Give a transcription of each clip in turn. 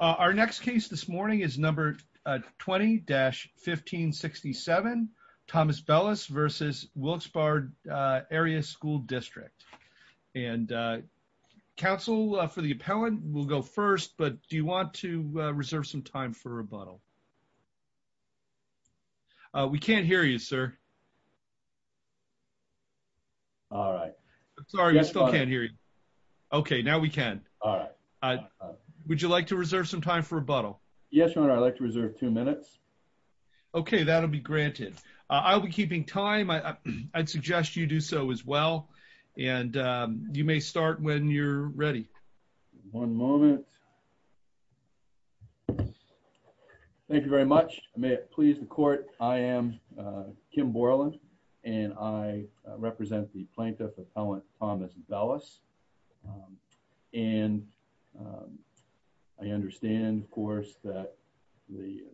Our next case this morning is number 20-1567, Thomas Bellis v. Wilkes Barre Area School District. Counsel for the appellant will go first, but do you want to reserve some time for rebuttal? We can't hear you, sir. All right. I'm sorry, we still can't hear you. Okay, now we can. All right. Would you like to reserve some time for rebuttal? Yes, Your Honor, I'd like to reserve two minutes. Okay, that'll be granted. I'll be keeping time. I'd suggest you do so as well, and you may start when you're ready. One moment. Thank you very much. May it please the court, I am Kim Borland, and I represent the plaintiff appellant, Thomas Bellis. And I understand, of course, that the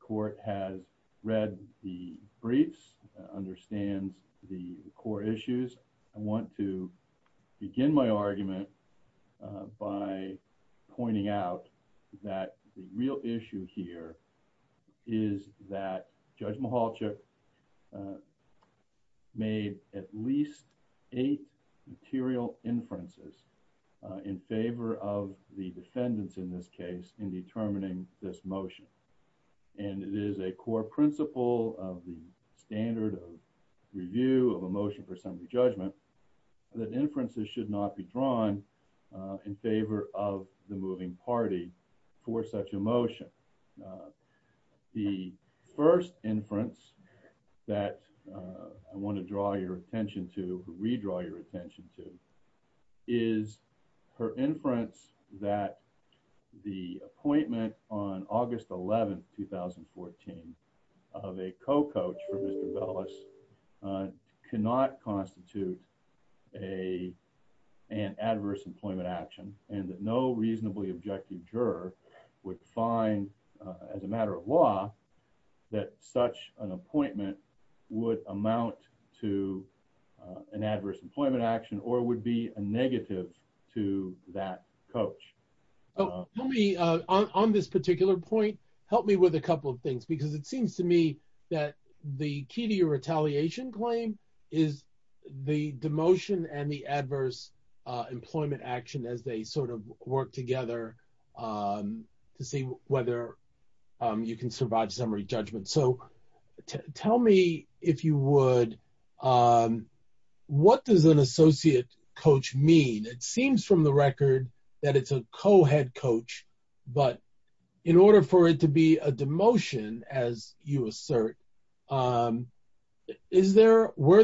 court has read the briefs, understands the core issues. I want to begin my argument by pointing out that the real issue here is that Judge Mihalchik made at least eight material inferences in favor of the defendants in this case in determining this motion. And it is a core principle of the standard of review of a motion for assembly judgment that inferences should not be drawn in favor of the moving party for such a motion. The first inference that I want to draw your attention to, redraw your attention to, is her inference that the appointment on August 11, 2014, of a co-coach for Mr. Bellis cannot constitute an adverse employment action, and that no reasonably objective juror would find, as a matter of law, that such an appointment would amount to an adverse employment action or would be a negative to that coach. On this particular point, help me with a couple of things, because it seems to me that the key to your retaliation claim is the demotion and the adverse employment action as they sort of work together to see whether you can survive summary judgment. So tell me, if you would, what does an associate coach mean? It seems from the record that it's a co-head coach, but in order for it to be a demotion, as you assert, were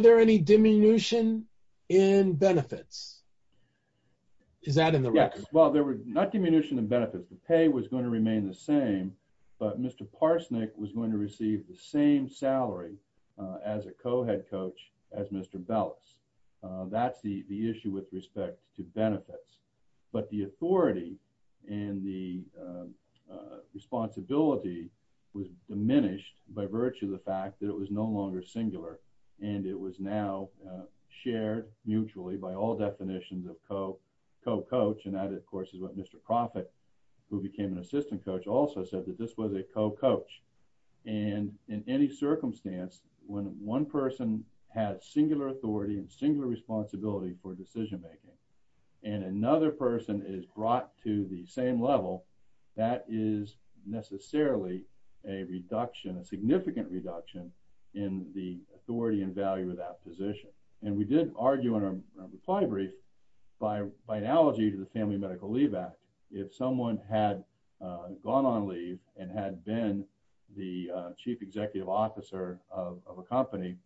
there any diminution in benefits? Is that in the record? Yes. Well, there were not diminution in benefits. The pay was going to remain the same, but Mr. Parsnick was going to receive the same salary as a co-head coach as Mr. Bellis. That's the issue with respect to benefits, but the authority and the responsibility was diminished by virtue of the fact that it was no longer singular, and it was now shared mutually by all definitions of co-coach, and that, of course, is what Mr. Proffitt, who became an assistant coach, also said, that this was a co-coach. And in any circumstance, when one person has singular authority and singular responsibility for decision-making, and another person is brought to the same level, that is necessarily a reduction, a significant reduction, in the authority and value of that position. And we did argue in our reply brief, by analogy to the Family Medical Leave Act, if someone had gone on leave and had been the chief executive officer of a company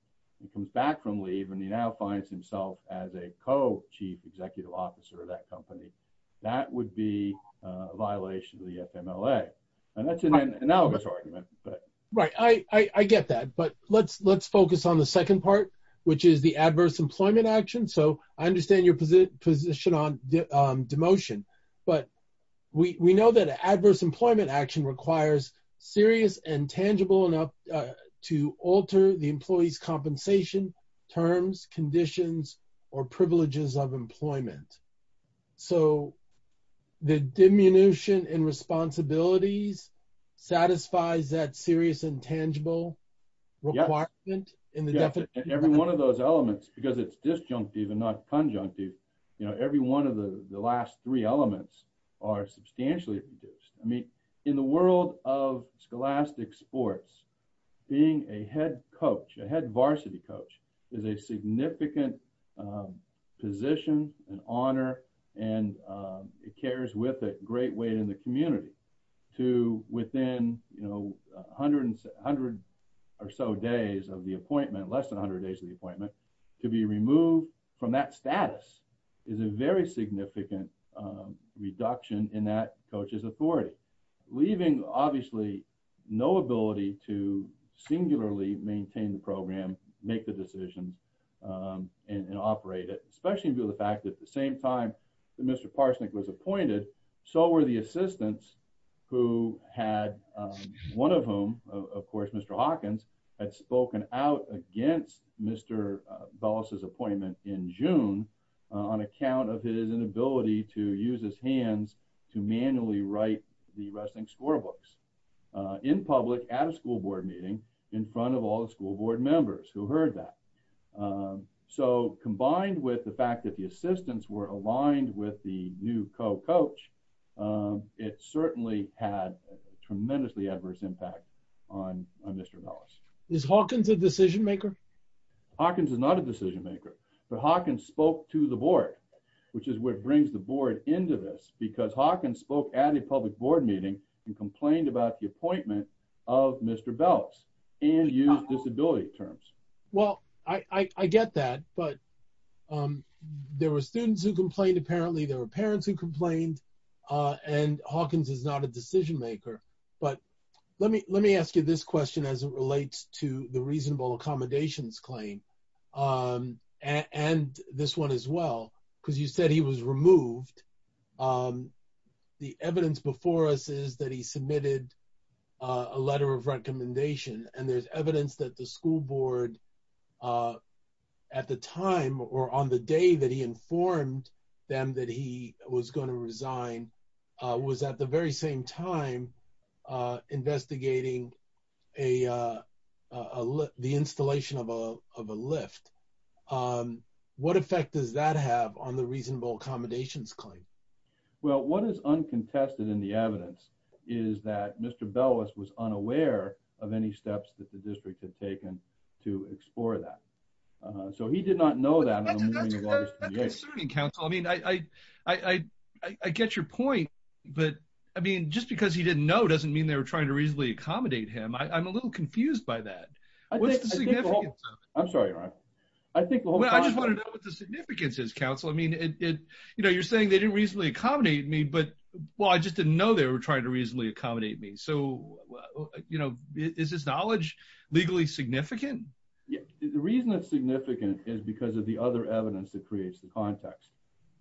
and comes back from leave and he now finds himself as a co-chief executive officer of that company, that would be a violation of the FMLA. And that's an analogous argument. Right, I get that, but let's focus on the second part, which is the adverse employment action. So, I understand your position on demotion, but we know that adverse employment action requires serious and tangible enough to alter the employee's compensation terms, conditions, or privileges of employment. So, the diminution in responsibilities satisfies that serious and tangible requirement? Every one of those elements, because it's disjunctive and not conjunctive, every one of the last three elements are substantially reduced. I mean, in the world of scholastic sports, being a head coach, a head varsity coach, is a significant position, an honor, and it carries with it great weight in the community to within 100 or so days of the appointment, less than 100 days of the appointment, to be removed from that status is a very significant reduction in that coach's authority. Leaving, obviously, no ability to singularly maintain the program, make the decisions, and operate it, especially due to the fact that at the same time that Mr. Parsnick was appointed, so were the assistants who had, one of whom, of course, Mr. Hawkins, had spoken out against Mr. Bellis' appointment in June on account of his inability to use his hands to manually write the wrestling scorebooks in public at a school board meeting in front of all the school board members who heard that. So, combined with the fact that the assistants were aligned with the new co-coach, it certainly had a tremendously adverse impact on Mr. Bellis. Is Hawkins a decision maker? Hawkins is not a decision maker, but Hawkins spoke to the board, which is what brings the board into this, because Hawkins spoke at a public board meeting and complained about the appointment of Mr. Bellis and used disability terms. Well, I get that, but there were students who complained, apparently, there were parents who complained, and Hawkins is not a decision maker. But let me ask you this question as it relates to the reasonable accommodations claim, and this one as well, because you said he was removed. The evidence before us is that he submitted a letter of recommendation, and there's evidence that the school board, at the time, or on the day that he informed them that he was going to resign, was at the very same time investigating the installation of a lift. What effect does that have on the reasonable accommodations claim? Well, what is uncontested in the evidence is that Mr. Bellis was unaware of any steps that the district had taken to explore that. So, he did not know that on the morning of August 28th. That's concerning, counsel. I mean, I get your point, but I mean, just because he didn't know doesn't mean they were trying to reasonably accommodate him. I'm a little confused by that. What's the significance of it? I'm sorry, Ron. I just want to know what the significance is, counsel. I mean, you know, you're saying they didn't reasonably accommodate me, but, well, I just didn't know they were trying to reasonably accommodate me. So, you know, is this knowledge legally significant? The reason it's significant is because of the other evidence that creates the context.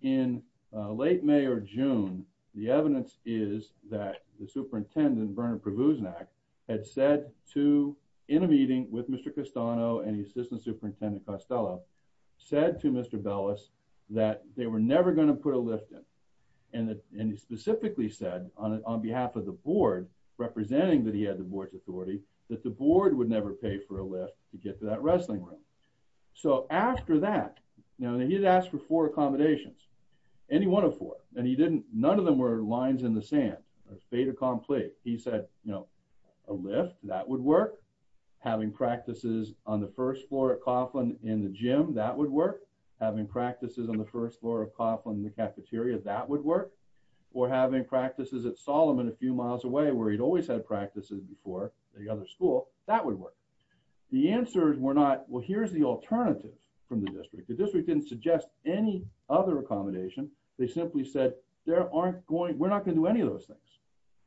In late May or June, the evidence is that the superintendent, Bernard Pravuznak, had said to, in a meeting with Mr. Castano and the assistant superintendent Costello, said to Mr. Bellis that they were never going to put a lift in. And he specifically said, on behalf of the board, representing that he had the board's authority, that the board would never pay for a lift to get to that wrestling room. So after that, you know, he had asked for four accommodations, any one of four, and he didn't, none of them were lines in the sand, a fait accompli. He said, you know, a lift, that would work. Having practices on the first floor at Coughlin in the gym, that would work. Having practices on the first floor of Coughlin in the cafeteria, that would work. Or having practices at Solomon a few miles away, where he'd always had practices before, the other school, that would work. The answers were not, well, here's the alternative from the district. The district didn't suggest any other accommodation. They simply said, there aren't going, we're not going to do any of those things.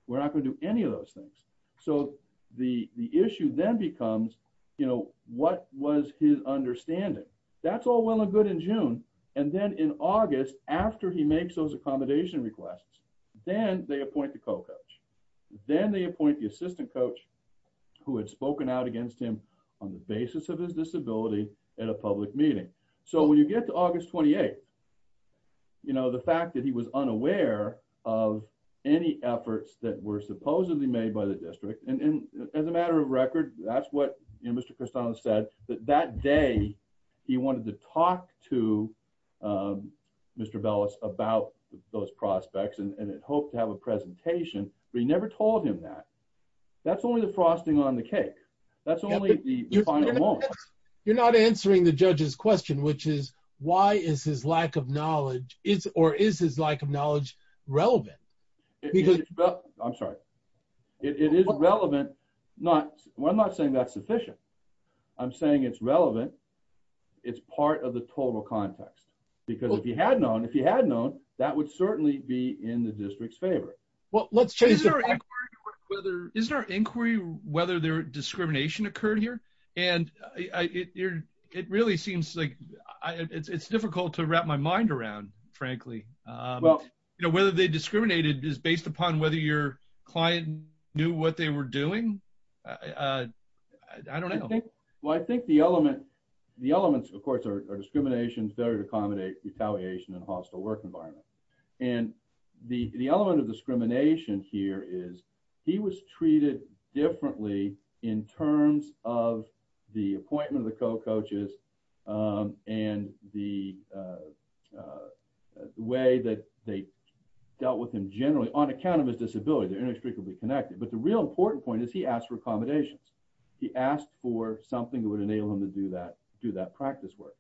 We're not going to do any of those things. So the issue then becomes, you know, what was his understanding? That's all well and good in June. And then in August, after he makes those accommodation requests, then they appoint the co-coach. Then they appoint the assistant coach, who had spoken out against him on the basis of his disability, at a public meeting. So when you get to August 28th, you know, the fact that he was unaware of any efforts that were supposedly made by the district, and as a matter of record, that's what Mr. Cristano said, that that day, he wanted to talk to Mr. Bellis about those prospects, and had hoped to have a presentation, but he never told him that. That's only the frosting on the cake. That's only the final moment. You're not answering the judge's question, which is, why is his lack of knowledge, or is his lack of knowledge relevant? I'm sorry. It is relevant. I'm not saying that's sufficient. I'm saying it's relevant. It's part of the total context. Because if he had known, if he had known, that would certainly be in the district's favor. Well, let's change the topic. Isn't our inquiry whether there was discrimination occurred here? And it really seems like, it's difficult to wrap my mind around, frankly. You know, whether they discriminated is based upon whether your client knew what they were doing. I don't know. Well, I think the element, the elements, of course, are discrimination, failure to accommodate, retaliation, and hostile work environment. And the element of discrimination here is he was treated differently in terms of the appointment of the co-coaches and the way that they dealt with him generally on account of his disability. They're inextricably connected. But the real important point is he asked for accommodations. He asked for something that would enable him to do that practice work.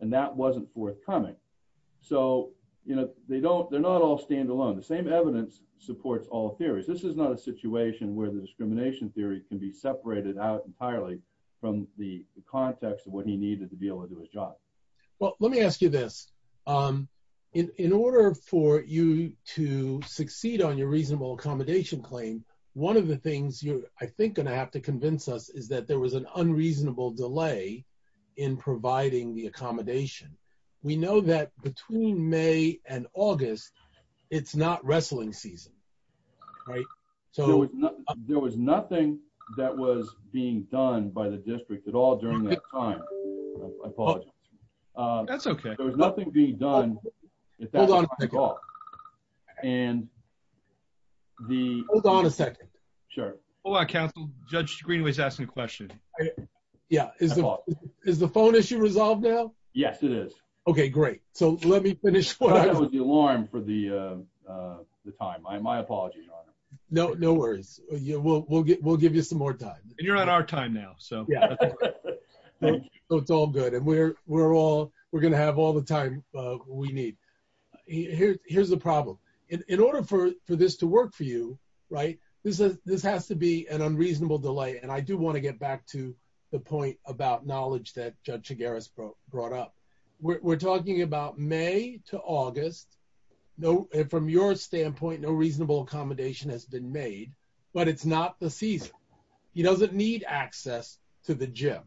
And that wasn't forthcoming. So, you know, they don't, they're not all standalone. The same evidence supports all theories. This is not a situation where the discrimination theory can be separated out entirely from the context of what he needed to be able to do his job. Well, let me ask you this. In order for you to succeed on your reasonable accommodation claim, one of the things you're, I think, going to have to convince us is that there was an unreasonable delay in providing the accommodation. We know that between May and August, it's not wrestling season. Right? There was nothing that was being done by the district at all during that time. I apologize. That's okay. There was nothing being done at that time at all. Hold on a second. Hold on a second. Sure. Hold on, counsel. Judge Greenway is asking a question. Yeah. Is the phone issue resolved now? Yes, it is. Okay, great. So let me finish. That was the alarm for the time. My apologies, Your Honor. No worries. We'll give you some more time. And you're on our time now. So it's all good. We're going to have all the time we need. Here's the problem. In order for this to work for you, this has to be an unreasonable delay. And I do want to get back to the point about knowledge that Judge Chigares brought up. We're talking about May to August. From your standpoint, no reasonable accommodation has been made. But it's not the season. He doesn't need access to the gym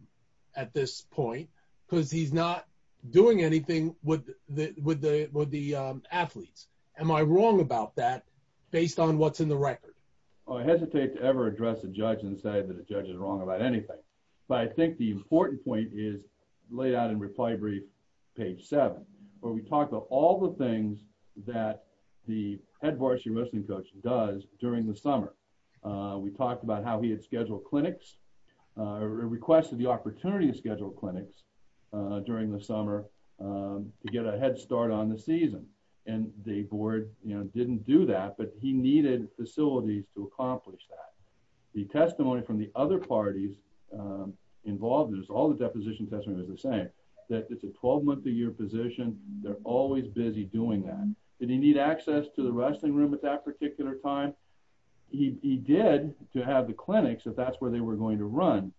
at this point because he's not doing anything with the athletes. Am I wrong about that based on what's in the record? I hesitate to ever address a judge and say that a judge is wrong about anything. But I think the important point is laid out in reply brief, page 7, where we talk about all the things that the head varsity wrestling coach does during the summer. We talked about how he had scheduled clinics or requested the opportunity to schedule clinics during the summer to get a head start on the season. And the board didn't do that, but he needed facilities to accomplish that. The testimony from the other parties involved, all the deposition testimony was the same, that it's a 12-month-a-year position, they're always busy doing that. Did he need access to the wrestling room at that particular time? He did to have the clinics if that's where they were going to run.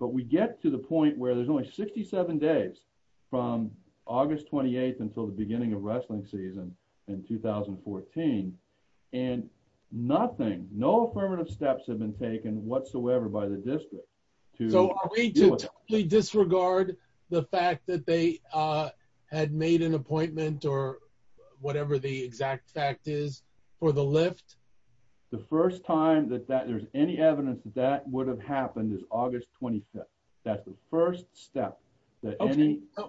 But we get to the point where there's only 67 days from August 28th until the beginning of wrestling season in 2014. And nothing, no affirmative steps have been taken whatsoever by the district. So are we to totally disregard the fact that they had made an appointment or whatever the exact fact is for the lift? The first time that there's any evidence that that would have happened is August 25th. That's the first step that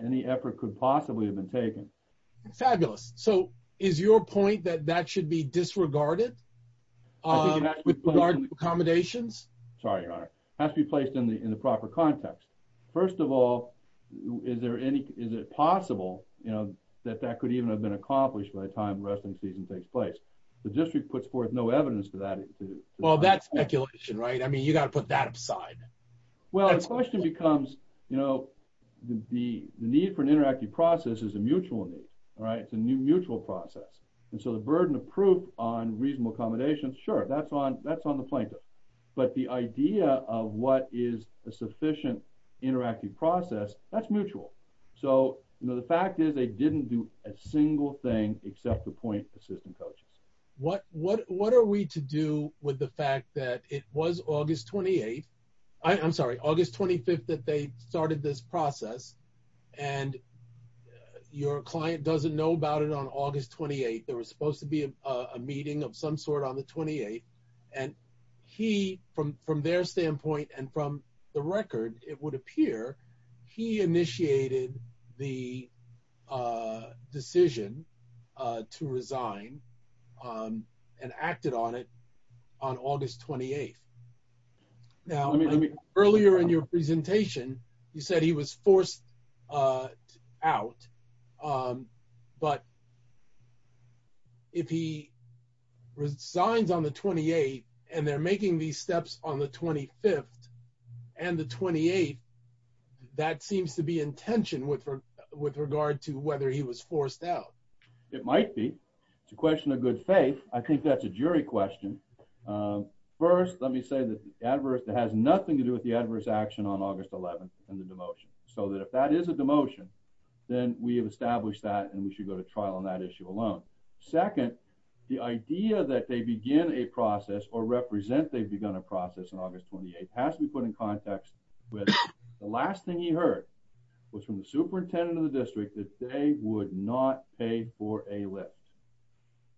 any effort could possibly have been taken. Fabulous. So is your point that that should be disregarded with regard to accommodations? Sorry, Your Honor. It has to be placed in the proper context. First of all, is it possible that that could even have been accomplished by the time the wrestling season takes place? The district puts forth no evidence to that. Well, that's speculation, right? You've got to put that aside. Well, the question becomes the need for an interactive process is a mutual need. It's a mutual process. So the burden of proof on reasonable accommodations, sure, that's on the plaintiff. But the idea of what is a sufficient interactive process, that's mutual. So the fact is they didn't do a single thing except appoint assistant coaches. What are we to do with the fact that it was August 28th? I'm sorry, August 25th that they started this process and your client doesn't know about it on August 28th. There was supposed to be a meeting of some sort on the 28th and he, from their standpoint and from the record, it would appear he initiated the decision to resign and acted on it on August 28th. Now, earlier in your presentation you said he was forced out but if he resigns on the 28th and they're making these steps on the 25th and the 28th that seems to be in tension with regard to whether he was forced out. It might be. It's a question of good faith. I think that's a jury question. First, let me say that it has nothing to do with the adverse action on August 11th and the demotion. So that if that is a demotion then we have established that and we should go to trial on that issue alone. Second, the idea that they begin a process or represent they've begun a process on August 28th has to be put in context with the last thing he heard was from the superintendent of the district that they would not pay for a lift.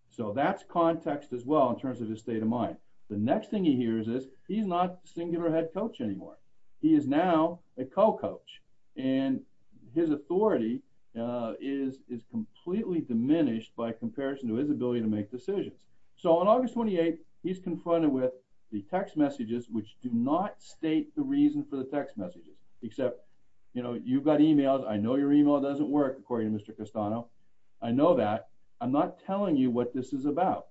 So that's context as well in terms of his state of mind. The next thing he hears is he's not singular head coach anymore. He is now a co-coach and his authority is completely diminished by comparison to his ability to make decisions. So on August 28th he's confronted with the text messages which do not state the reason for the text messages except, you know, you've got emails. I know your email doesn't work according to Mr. Castano. I know that. I'm not telling you what this is about.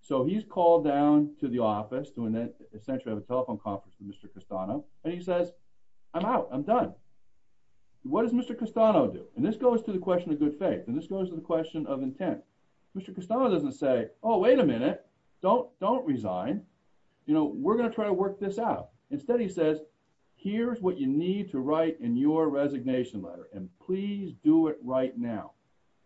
So he's called down to the office to essentially have a telephone conference with Mr. Castano and he says, I'm out. I'm done. What does Mr. Castano do? And this goes to the question of good faith and this goes to the question of intent. Mr. Castano doesn't say, oh wait a minute don't resign. You know, we're going to try to work this out. Instead he says, here's what you need to write in your resignation letter and please do it right now.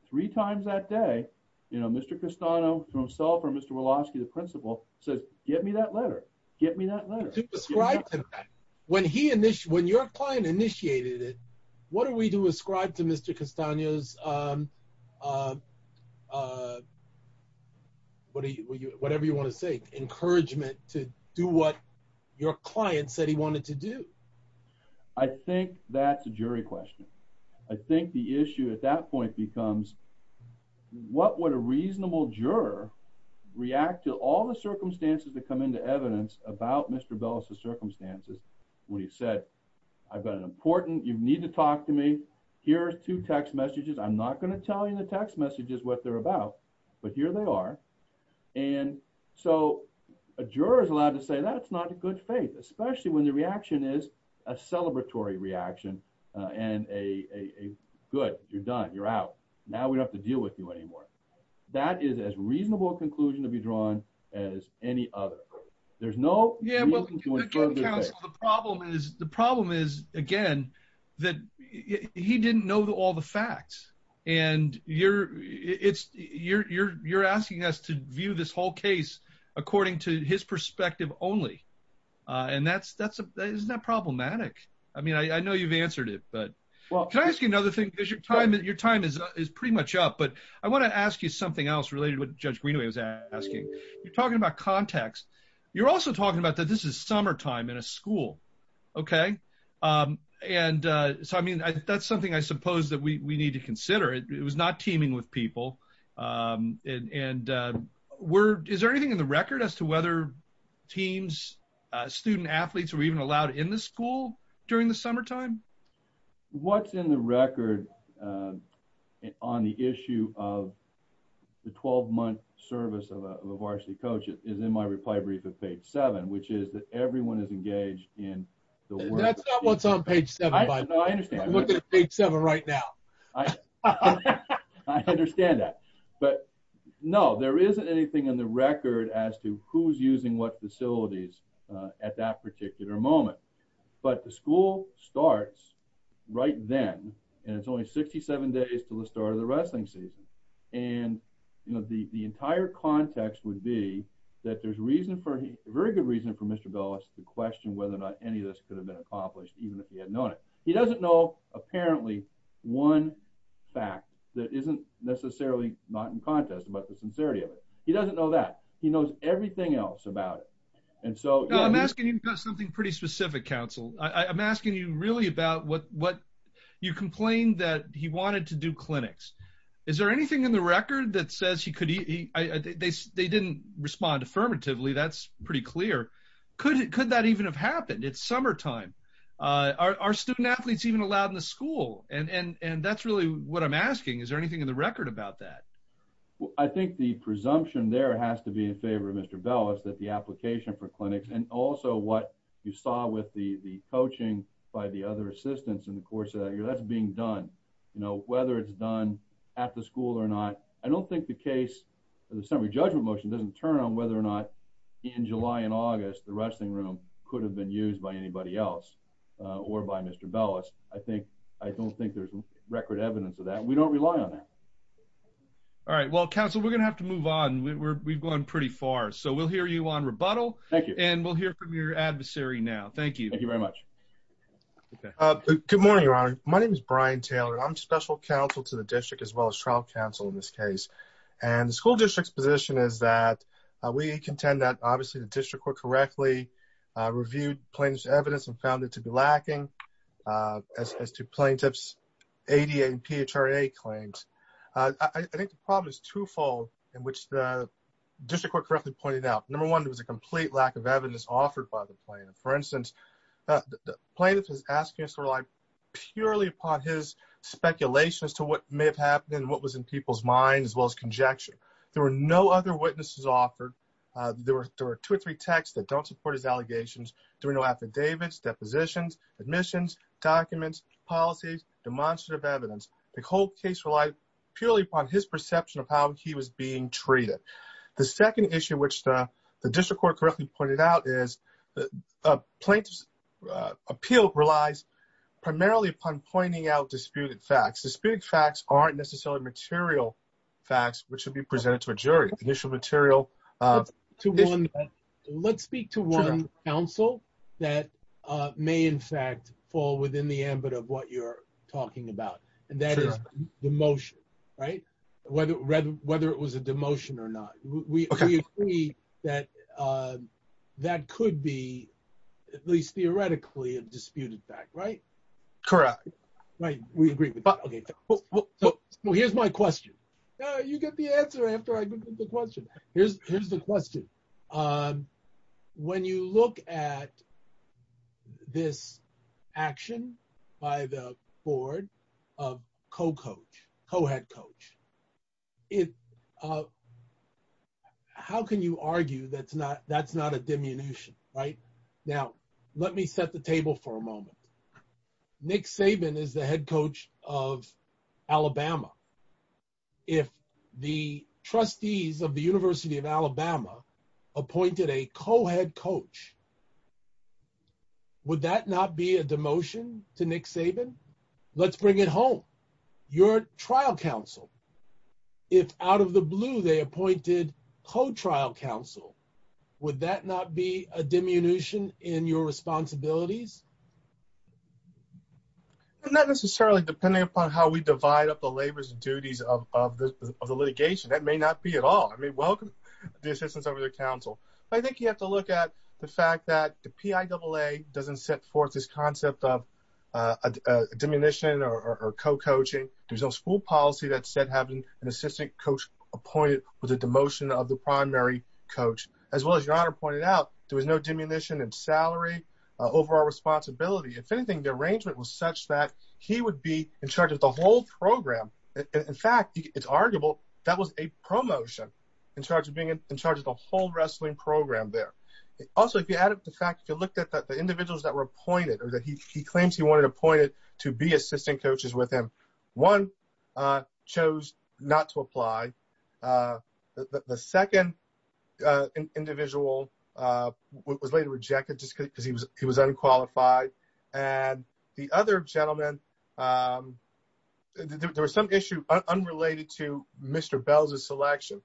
Three times that day you know, Mr. Castano to himself or Mr. Waloski, the principal, says get me that letter, get me that letter. To ascribe to that. When your client initiated it what do we do ascribe to Mr. Castano's whatever you want to say, encouragement to do what your client said he wanted to do. I think that's a jury question. I think the issue at that point becomes what would a reasonable juror react to all the circumstances that come into evidence about Mr. Waloski's circumstances when he said, I've got an important you need to talk to me, here's two text messages. I'm not going to tell you the text messages what they're about but here they are. And so a juror is allowed to say that's not a good faith especially when the reaction is a celebratory reaction and a good you're done, you're out, now we don't have to deal with you anymore. That is as reasonable a conclusion to be drawn as any other. There's no reason to infringe. The problem is again that he didn't know all the facts and you're asking us to view this whole case according to his perspective only and that's isn't that problematic? I know you've answered it but your time is pretty much up but I want to ask you something else related to what Judge Greenaway was asking. You're talking about context you're also talking about that this is summertime in a school and that's something I suppose that we need to consider. It was not teaming with people and is there anything in the record as to whether teams student athletes were even allowed in the school during the summertime? What's in the record on the issue of the 12 month service of a varsity coach is in my reply brief at page 7 which is that everyone is engaged in the work That's not what's on page 7. I'm looking at page 7 right now. I understand that but no there isn't anything in the record as to who's using what facilities at that particular moment but the school starts right then and it's only 67 days until the start of the wrestling season and the entire context would be that there's very good reason for Mr. Bellis to question whether or not any of this could have been accomplished even if he had known it. He doesn't know apparently one fact that isn't necessarily not in context but the sincerity of it He doesn't know that. He knows everything else about it I'm asking you about something pretty specific I'm asking you really about what you complained that he wanted to do clinics Is there anything in the record that says they didn't respond affirmatively. That's pretty clear. Could that even have happened? It's summertime Are student-athletes even allowed in the school? That's really what I'm asking. Is there anything in the record about that? I think the presumption there has to be in favor of Mr. Bellis that the application for clinics and also what you saw with the coaching by the other assistants in the course of that year that's being done. Whether it's done at the school or not I don't think the case of the summary judgment motion doesn't turn on whether or not in July and August the wrestling room could have been used by anybody else or by Mr. Bellis I don't think there's record evidence of that. We don't rely on that All right. Well, counsel, we're going to have to move on We've gone pretty far We'll hear you on rebuttal and we'll hear from your adversary now. Thank you Thank you very much Good morning, Your Honor. My name is Brian Taylor I'm special counsel to the district as well as trial counsel in this case The school district's position is that we contend that obviously the district court correctly reviewed plaintiff's evidence and found it to be lacking as to plaintiff's ADA and PHRA claims I think the problem is twofold in which the district court correctly pointed out Number one, there was a complete lack of evidence offered by the plaintiff. For instance the plaintiff is asking us to rely purely upon his speculation as to what may have happened and what was in people's minds as well as conjecture There were no other witnesses offered. There were two or three texts that don't support his allegations There were no affidavits, depositions admissions, documents, policies demonstrative evidence The whole case relied purely upon his perception of how he was being treated The second issue which the district court correctly pointed out is the plaintiff's appeal relies primarily upon pointing out disputed facts. Disputed facts aren't necessarily material facts which should be presented to a jury Let's speak to one counsel that may in fact fall within the ambit of what you're talking about and that is demotion whether it was a demotion or not We agree that that could be at least theoretically a disputed fact, right? Correct Here's my question You get the answer after I give the question. Here's the question When you look at this action by the board of co-coach co-head coach How can you argue that's not a demotion, right? Now, let me set the table for a moment Nick Saban is the head coach of if the trustees of the University of Alabama appointed a co-head coach Would that not be a demotion to Nick Saban? Let's bring it home. You're trial counsel. If out of the blue they appointed co-trial counsel would that not be a diminution in your responsibilities? Not necessarily, depending upon how we of the litigation. That may not be at all I mean, welcome the assistance of the counsel. I think you have to look at the fact that the PIAA doesn't set forth this concept of a diminution or co-coaching. There's no school policy that said having an assistant coach appointed with a demotion of the primary coach. As well as your honor pointed out, there was no diminution in salary, overall responsibility If anything, the arrangement was such that he would be in charge of the whole program. In fact, it's arguable that was a promotion in charge of the whole wrestling program there. Also, if you look at the individuals that were appointed or that he claims he wanted appointed to be assistant coaches with him one chose not to apply the second individual was later rejected because he was unqualified and the other gentleman there was some issue unrelated to Mr. Bell's selection.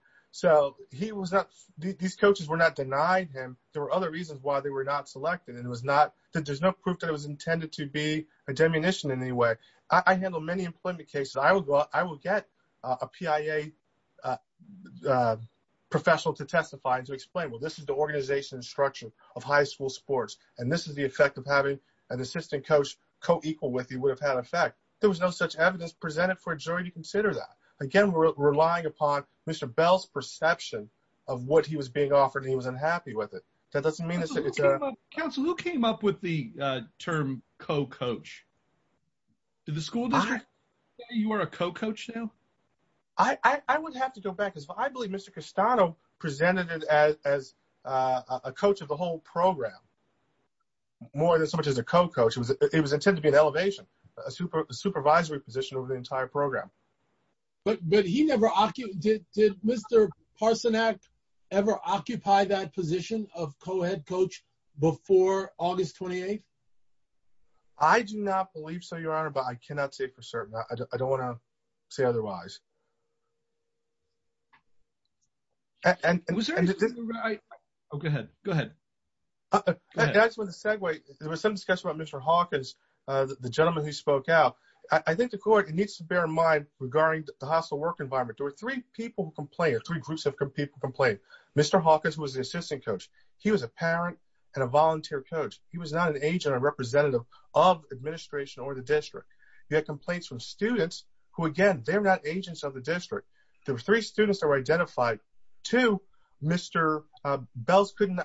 These coaches were not denying him. There were other reasons why they were not selected. There's no proof that it was intended to be a diminution in any way. I handle many employment cases. I will get a PIAA professional to testify and to explain. Well, this is the organization and structure of high school sports and this is the effect of having an assistant coach co-equal with you would have had an effect. There was no such evidence presented for a jury to consider that. Again, we're relying upon Mr. Bell's perception of what he was being offered and he was unhappy with it. That doesn't mean that... Counselor, who came up with the term co-coach? Did the school district say you are a co-coach now? I would have to go back. I believe Mr. Castano presented it as a coach of the whole program. More than so much as a co-coach. It was intended to be an elevation, a supervisory position over the entire program. Did Mr. Parsonak ever occupy that position of co-head coach before August 28th? I do not believe so, Your Honor, but I cannot say for certain. I don't want to say otherwise. Go ahead. I just want to segue. There was some discussion about Mr. Hawkins, the gentleman who spoke out. I think the court needs to bear in mind regarding the hostile work environment. There were three people who complained, three groups of people complained. Mr. Hawkins was the assistant coach. He was a parent and a volunteer coach. He was not an agent or representative of administration or the district. You had complaints from students who, again, they're not agents of the district. There were three students that were identified. Two, Mr. Bells couldn't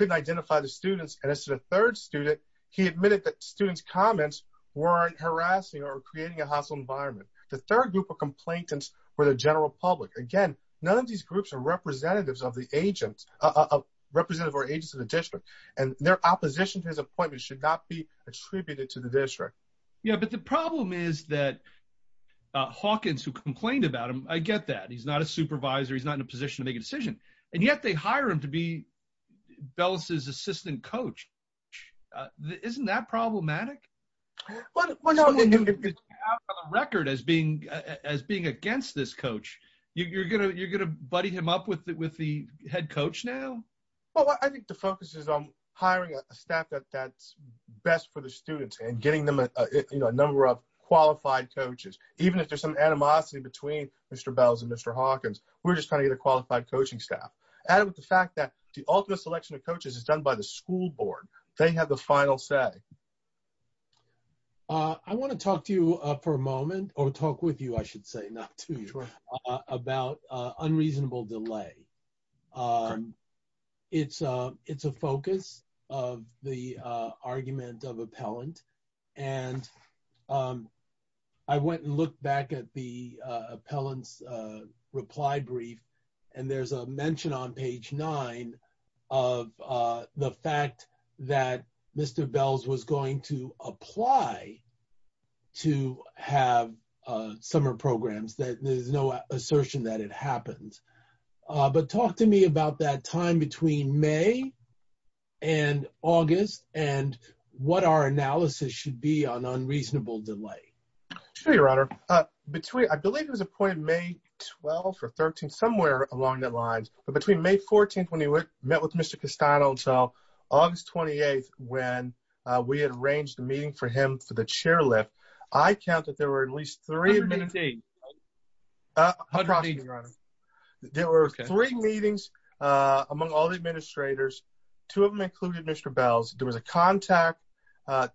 identify the students, and as to the third student, he admitted that students' comments weren't harassing or creating a hostile environment. The third group of complainants were the general public. Again, none of these groups are representatives of the agents, representative or agents of the district, and their opposition to his appointment should not be attributed to the district. Yeah, but the problem is that Hawkins, who complained about him, I get that. He's not a supervisor. He's not in a position to make a decision. And yet, they hire him to be Bells' assistant coach. Isn't that problematic? Well, no. As being against this coach, you're going to buddy him up with the head coach now? Well, I think the focus is on hiring a staff that's best for the students and getting them a number of coaches. And I think there's a lot of animosity between Mr. Bells and Mr. Hawkins. We're just trying to get a qualified coaching staff. Added with the fact that the ultimate selection of coaches is done by the school board. They have the final say. I want to talk to you for a moment, or talk with you, I should say, not to you, about unreasonable delay. It's a focus of the argument of Appellant. I went and looked back at the Appellant's reply brief and there's a mention on page nine of the fact that Mr. Bells was going to apply to have summer programs. There's no assertion that it happened. Talk to me about that time between May and August and what our analysis should be on unreasonable delay. Sure, Your Honor. I believe he was appointed May 12th or 13th, somewhere along the lines, but between May 14th when he met with Mr. Castano and so August 28th when we had arranged a meeting for him for the chair lift, I count that there were at least three meetings. Across me, Your Honor. There were three meetings among all the administrators. Two of them included Mr. Bells. There was a contact,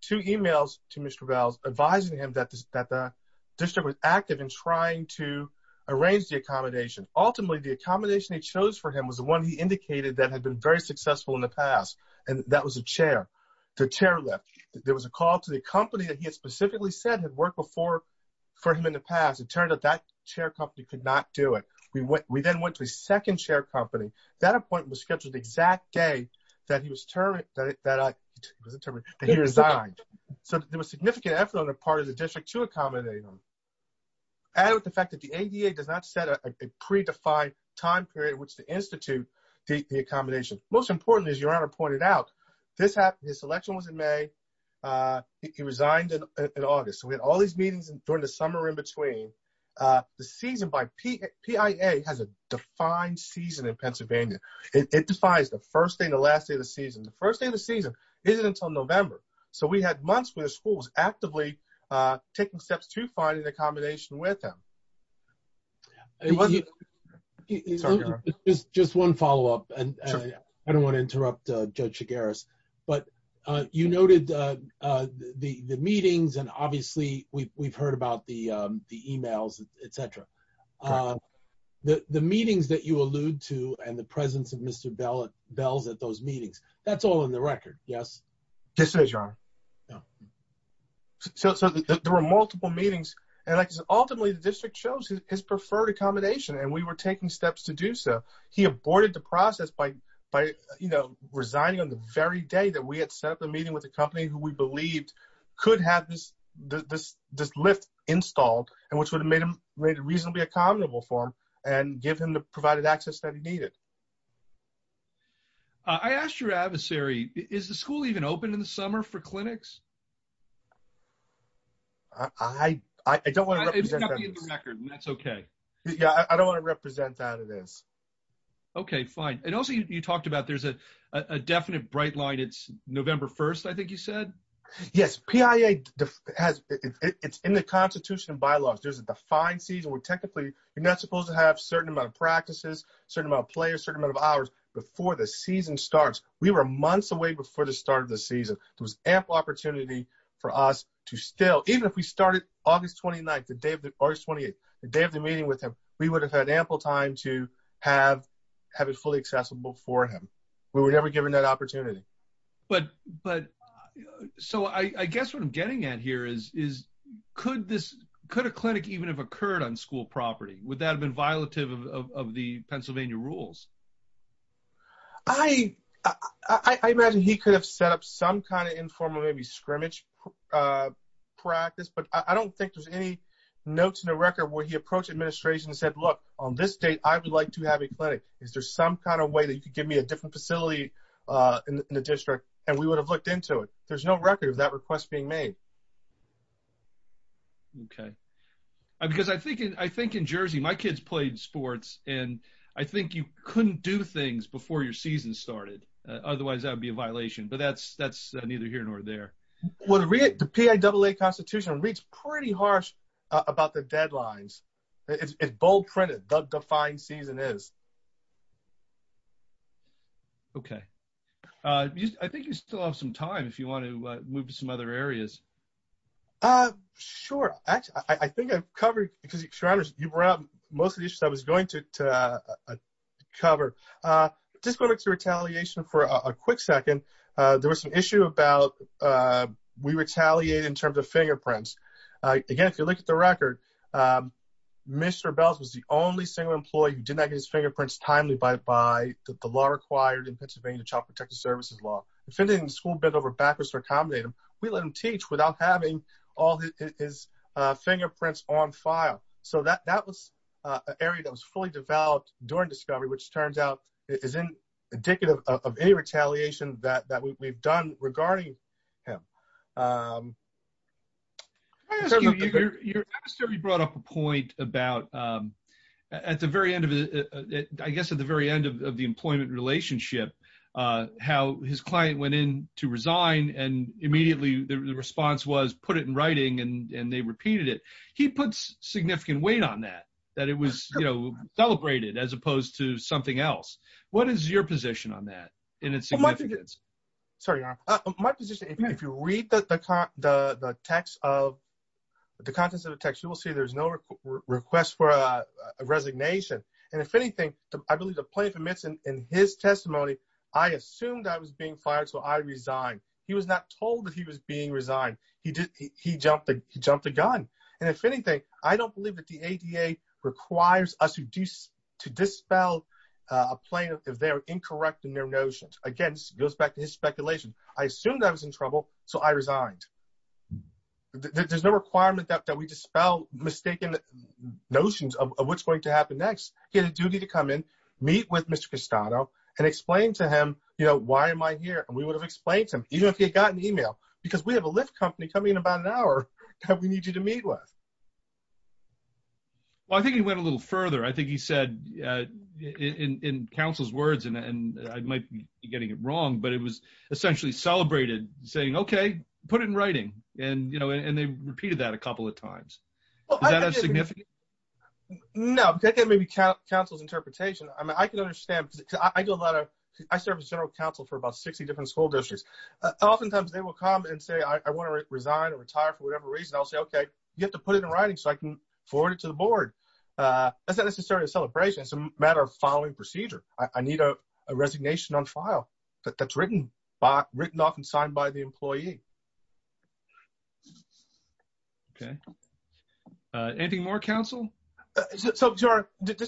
two emails to Mr. Bells advising him that the district was active in trying to arrange the accommodation. Ultimately, the accommodation he chose for him was the one he indicated that had been very successful in the past and that was a chair, the chair lift. There was a call to the company that he had specifically said had worked before for him in the past. It turned out that chair company could not do it. We then went to a second chair company. That appointment was scheduled the exact day that he was determined that he resigned. So there was significant effort on the part of the district to accommodate him. Added with the fact that the ADA does not set a predefined time period which to institute the accommodation. Most importantly, as Your Honor pointed out, this happened, his election was in May. He resigned in August. So we had all these meetings during the summer in between. The season by PIA has a defined season in Pennsylvania. It defines the first day and the last day of the season. The first day of the season isn't until November. So we had months where the school was actively taking steps to find an accommodation with him. Just one follow-up. I don't want to interrupt Judge Shigaris. But you noted the meetings and obviously we've heard about the emails, etc. The meetings that you allude to and the presence of Mr. Bells at those meetings, that's all in the record, yes? Yes, it is, Your Honor. So there were multiple meetings and like I said, ultimately the district chose his preferred accommodation and we were taking steps to do so. He aborted the process by resigning on the very day that we had set up the meeting with the company who we believed could have this lift installed and which would have made it reasonably accommodable for him and give him the provided access that he needed. I asked your adversary, is the school even open in the summer for clinics? I don't want to represent that. That's okay. I don't want to represent that, it is. Okay, fine. And also you talked about there's a definite bright line it's November 1st, I think you said? Yes, PIA it's in the Constitution and bylaws. There's a defined season where technically you're not supposed to have certain amount of practices, certain amount of players, certain amount of hours before the season starts. We were months away before the start of the season. There was ample opportunity for us to still, even if we started August 29th, the day of the meeting with him, we would have had ample time to have it fully accessible for him. We were never given that opportunity. But I guess what I'm getting at here is could a clinic even have occurred on school property? Would that have been violative of the Pennsylvania rules? I imagine he could have set up some kind of informal maybe scrimmage practice, but I don't think there's any notes in the record where he approached administration and said, look, on this date I would like to have a clinic. Is there some kind of way that you could give me a different facility in the district? And we would have looked into it. There's no record of that request being made. Okay. Because I think in Jersey, my kids played sports, and I think you couldn't do things before your season started. Otherwise, that would be a violation. But that's neither here nor there. The PIAA Constitution reads pretty harsh about the deadlines. It's bold printed. The defined season is. Okay. I think you still have some time if you want to move to some other areas. Sure. Actually, I think I've covered, because you brought up most of the issues I was going to cover. Just going back to retaliation for a quick second, there was an issue about we retaliated in terms of fingerprints. Again, if you look at the record, Mr. Belz was the only single employee who did not get his fingerprints timely by the law required in Pennsylvania Child Protective Services law. If anything, the school bent over backwards to accommodate him. We let him teach without having all his fingerprints on file. That was an area that was fully developed during discovery, which turns out is indicative of any retaliation that we've done regarding him. Can I ask you, you brought up a point about at the very end of the employment relationship, how his client went in to resign and immediately the response was put it in writing and they repeated it. He puts significant weight on that, that it was celebrated as opposed to something else. What is your position on that in its significance? Sorry, Your Honor. My position, if you read the contents of the text, you will see there's no request for a resignation. And if anything, I believe the plaintiff admits in his testimony, I assumed I was being fired, so I resigned. He was not told that he was being resigned. He jumped the gun. And if anything, I don't believe that the ADA requires us to dispel a plaintiff if they are incorrect I assumed I was in trouble, so I resigned. There's no requirement that we dispel mistaken notions of what's going to happen next. He had a duty to come in, meet with Mr. Castano, and explain to him why am I here. And we would have explained to him, even if he had gotten an email, because we have a Lyft company coming in about an hour that we need you to meet with. Well, I think he went a little further. I think he said in counsel's words, and I might be getting it wrong, but it was essentially celebrated saying, okay, put it in writing. And they repeated that a couple of times. Is that as significant? No. That may be counsel's interpretation. I serve as general counsel for about 60 different school districts. Oftentimes, they will come and say I want to resign or retire for whatever reason. I'll say, okay, you have to put it in writing so I can forward it to the board. That's not necessarily a celebration. It's a matter of following procedure. I need a resignation on file that's written off and signed by the employee. Okay. Anything more, counsel? Just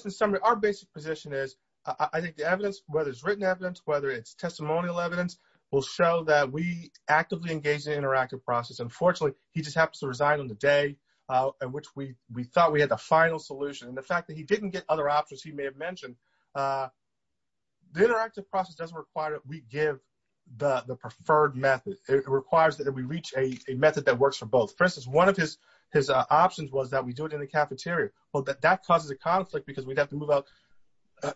in summary, our basic position is I think the evidence, whether it's written evidence, whether it's testimonial evidence, will show that we actively engaged in the interactive process. Unfortunately, he just happens to resign on the day in which we thought we had the final solution. And the fact that he didn't get other options he may have mentioned, the interactive process doesn't require that we give the preferred method. It requires that we reach a method that works for both. For instance, one of his options was that we do it in the cafeteria. That causes a conflict because we'd have to move out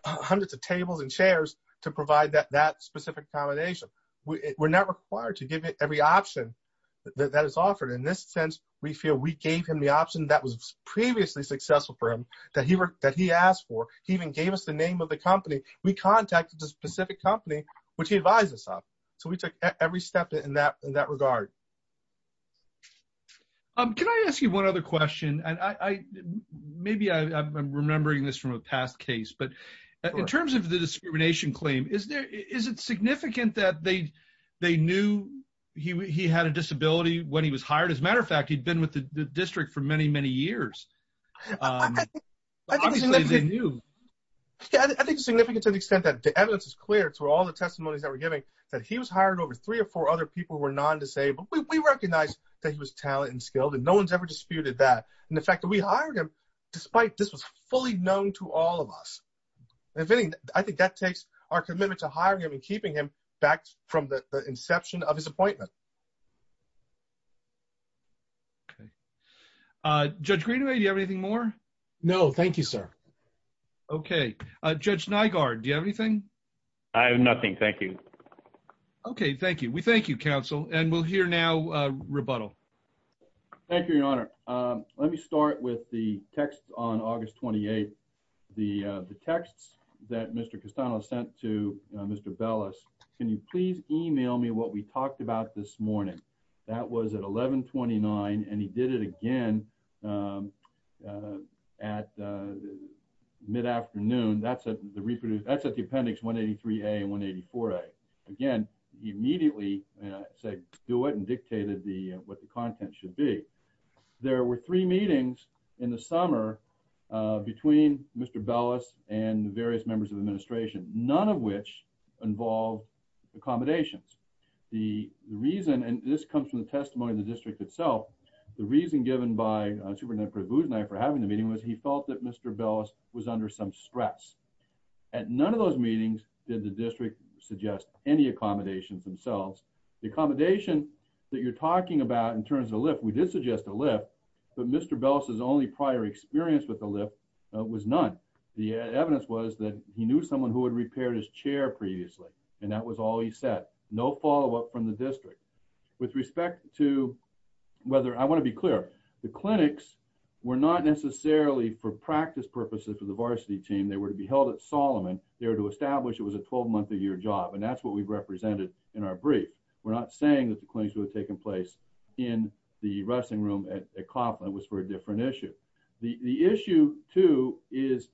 hundreds of tables and chairs to provide that specific combination. We're not required to give every option that is offered. In this sense, we feel we gave him the option that was previously successful for him, that he asked for. He even gave us the name of the company. We contacted the specific company which he advised us of. So we took every step in that regard. Can I ask you one other question? Maybe I'm remembering this from a past case, but in terms of the discrimination claim, is it significant that they knew he had a disability when he was hired? As a matter of fact, he'd been with the district for many, many years. Obviously, they knew. I think it's significant to the extent that the evidence is clear to all the testimonies that we're giving that he was hired over three or four other people who were non-disabled. We recognize that he was talented and skilled and no one's ever disputed that. In fact, we hired him despite this was fully known to all of us. I think that takes our commitment to hiring him and keeping him back from the inception of his appointment. Okay. Judge Greenaway, do you have anything more? No. Thank you, sir. Okay. Judge Nygaard, do you have anything? I have nothing. Thank you. Okay. Thank you. We thank you, counsel. And we'll hear now rebuttal. Thank you, Your Honor. Let me start with the text on August 28th. The texts that Mr. Castano sent to Mr. Bellis. Can you please email me what we talked about this morning? That was at 11.29 and he did it again at mid-afternoon. That's at the appendix 183A and 184A. Again, he immediately said do it and dictated what the content should be. There were three meetings in the summer between Mr. Bellis and various members of the administration. None of which involved accommodations. The reason, and this comes from the testimony of the district itself, the reason given by Superintendent Prabhu's for having the meeting was he felt that Mr. Bellis was under some stress. At none of those meetings did the district suggest any accommodations themselves. The accommodation that you're talking about in terms of the lift, we did suggest a lift, but Mr. Bellis' only prior experience with the lift was none. The evidence was that he knew someone who had no follow-up from the district. With respect to whether, I want to be clear, the clinics were not necessarily for practice purposes for the varsity team. They were to be held at Solomon. They were to establish it was a 12-month-a-year job and that's what we've represented in our brief. We're not saying that the clinics would have taken place in the wrestling room at Copland. It was for a different issue. The issue, too, is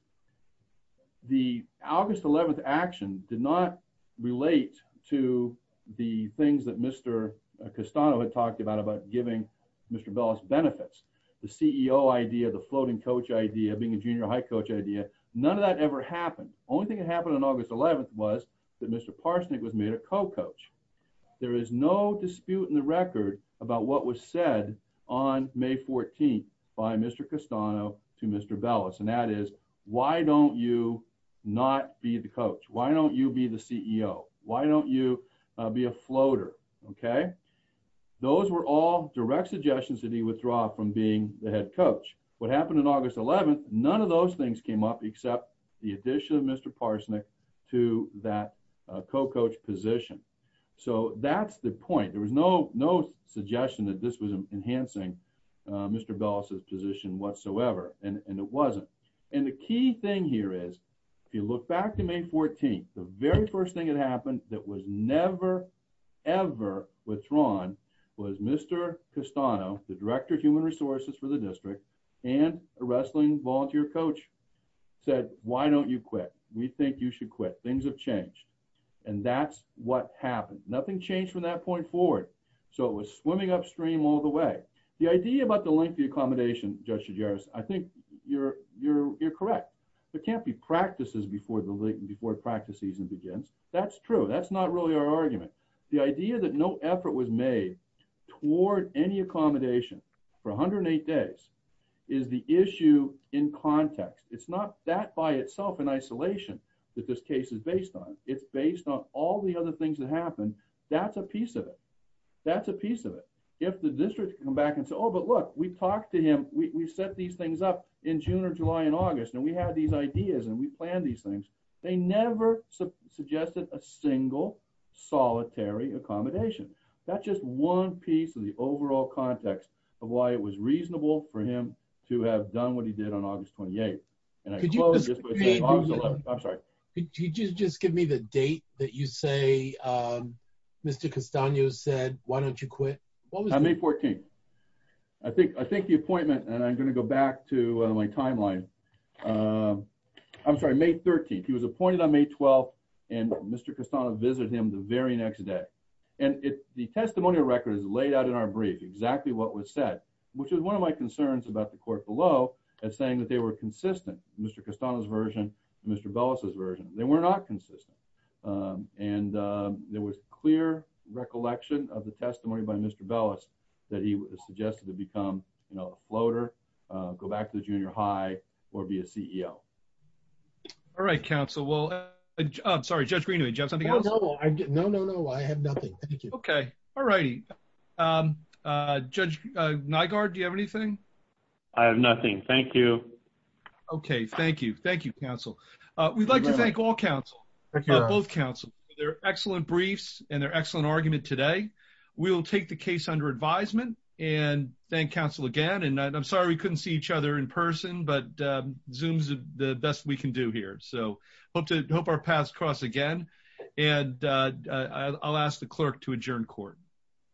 the August 11th action did not relate to the things that Mr. Castano had talked about, about giving Mr. Bellis benefits. The CEO idea, the floating coach idea, being a junior high coach idea, none of that ever happened. Only thing that happened on August 11th was that Mr. Parsnick was made a co-coach. There is no dispute in the record about what was said on May 14th by Mr. Castano to Mr. Bellis, and that is, why don't you not be the coach? Why don't you be the CEO? Why don't you be a floater? Those were all direct suggestions that he withdrew from being the head coach. What happened on August 11th, none of those things came up except the addition of Mr. Parsnick to that co-coach position. That's the point. There was no suggestion that this was enhancing Mr. Bellis' position whatsoever, and it wasn't. The key thing here is if you look back to May 14th, the very first thing that happened that was never, ever withdrawn was Mr. Castano, the director of human resources for the district, and a wrestling volunteer coach said, why don't you quit? We think you should quit. Things have changed. That's what happened. Nothing changed from that point forward. It was swimming upstream all the way. The idea about the length of the accommodation, Judge Shigeru, I think you're correct. There can't be practices before the practice season begins. That's true. That's not really our argument. The idea that no effort was made toward any accommodation for 108 days is the issue in context. It's not that by itself in isolation that this case is based on. It's based on all the other things that happened. That's a piece of it. That's a piece of it. If the district come back and look, we talked to him, we set these things up in June or July and August and we had these ideas and we planned these things. They never suggested a single solitary accommodation. That's just one piece of the overall context of why it was reasonable for him to have done what he did on August 28th. August 11th, I'm sorry. Could you just give me the date that you say Mr. Castano said, why don't you quit? May 14th. I think the appointment, and I'm going to go back to my timeline. I'm sorry, May 13th. He was appointed on May 12th and Mr. Castano visited him the very next day. The testimonial record is laid out in our brief exactly what was said, which is one of my concerns about the court below, saying that they were consistent, Mr. Castano's version and Mr. Bellis' version. They were not consistent. There was clear recollection of the testimony by Mr. Bellis that he suggested to become a floater, go back to the junior high, or be a CEO. All right, counsel. Judge Green, did you have something else? No, I have nothing. All righty. Judge Nygaard, do you have anything? I have nothing. Thank you. Okay, thank you. We'd like to thank all counsel, both counsel. They're excellent briefs and they're excellent argument today. We'll take the case under advisement and thank counsel again, and I'm sorry we couldn't see each other in person, but Zoom's the best we can do here. So, hope our paths cross again and I'll ask the clerk to adjourn court.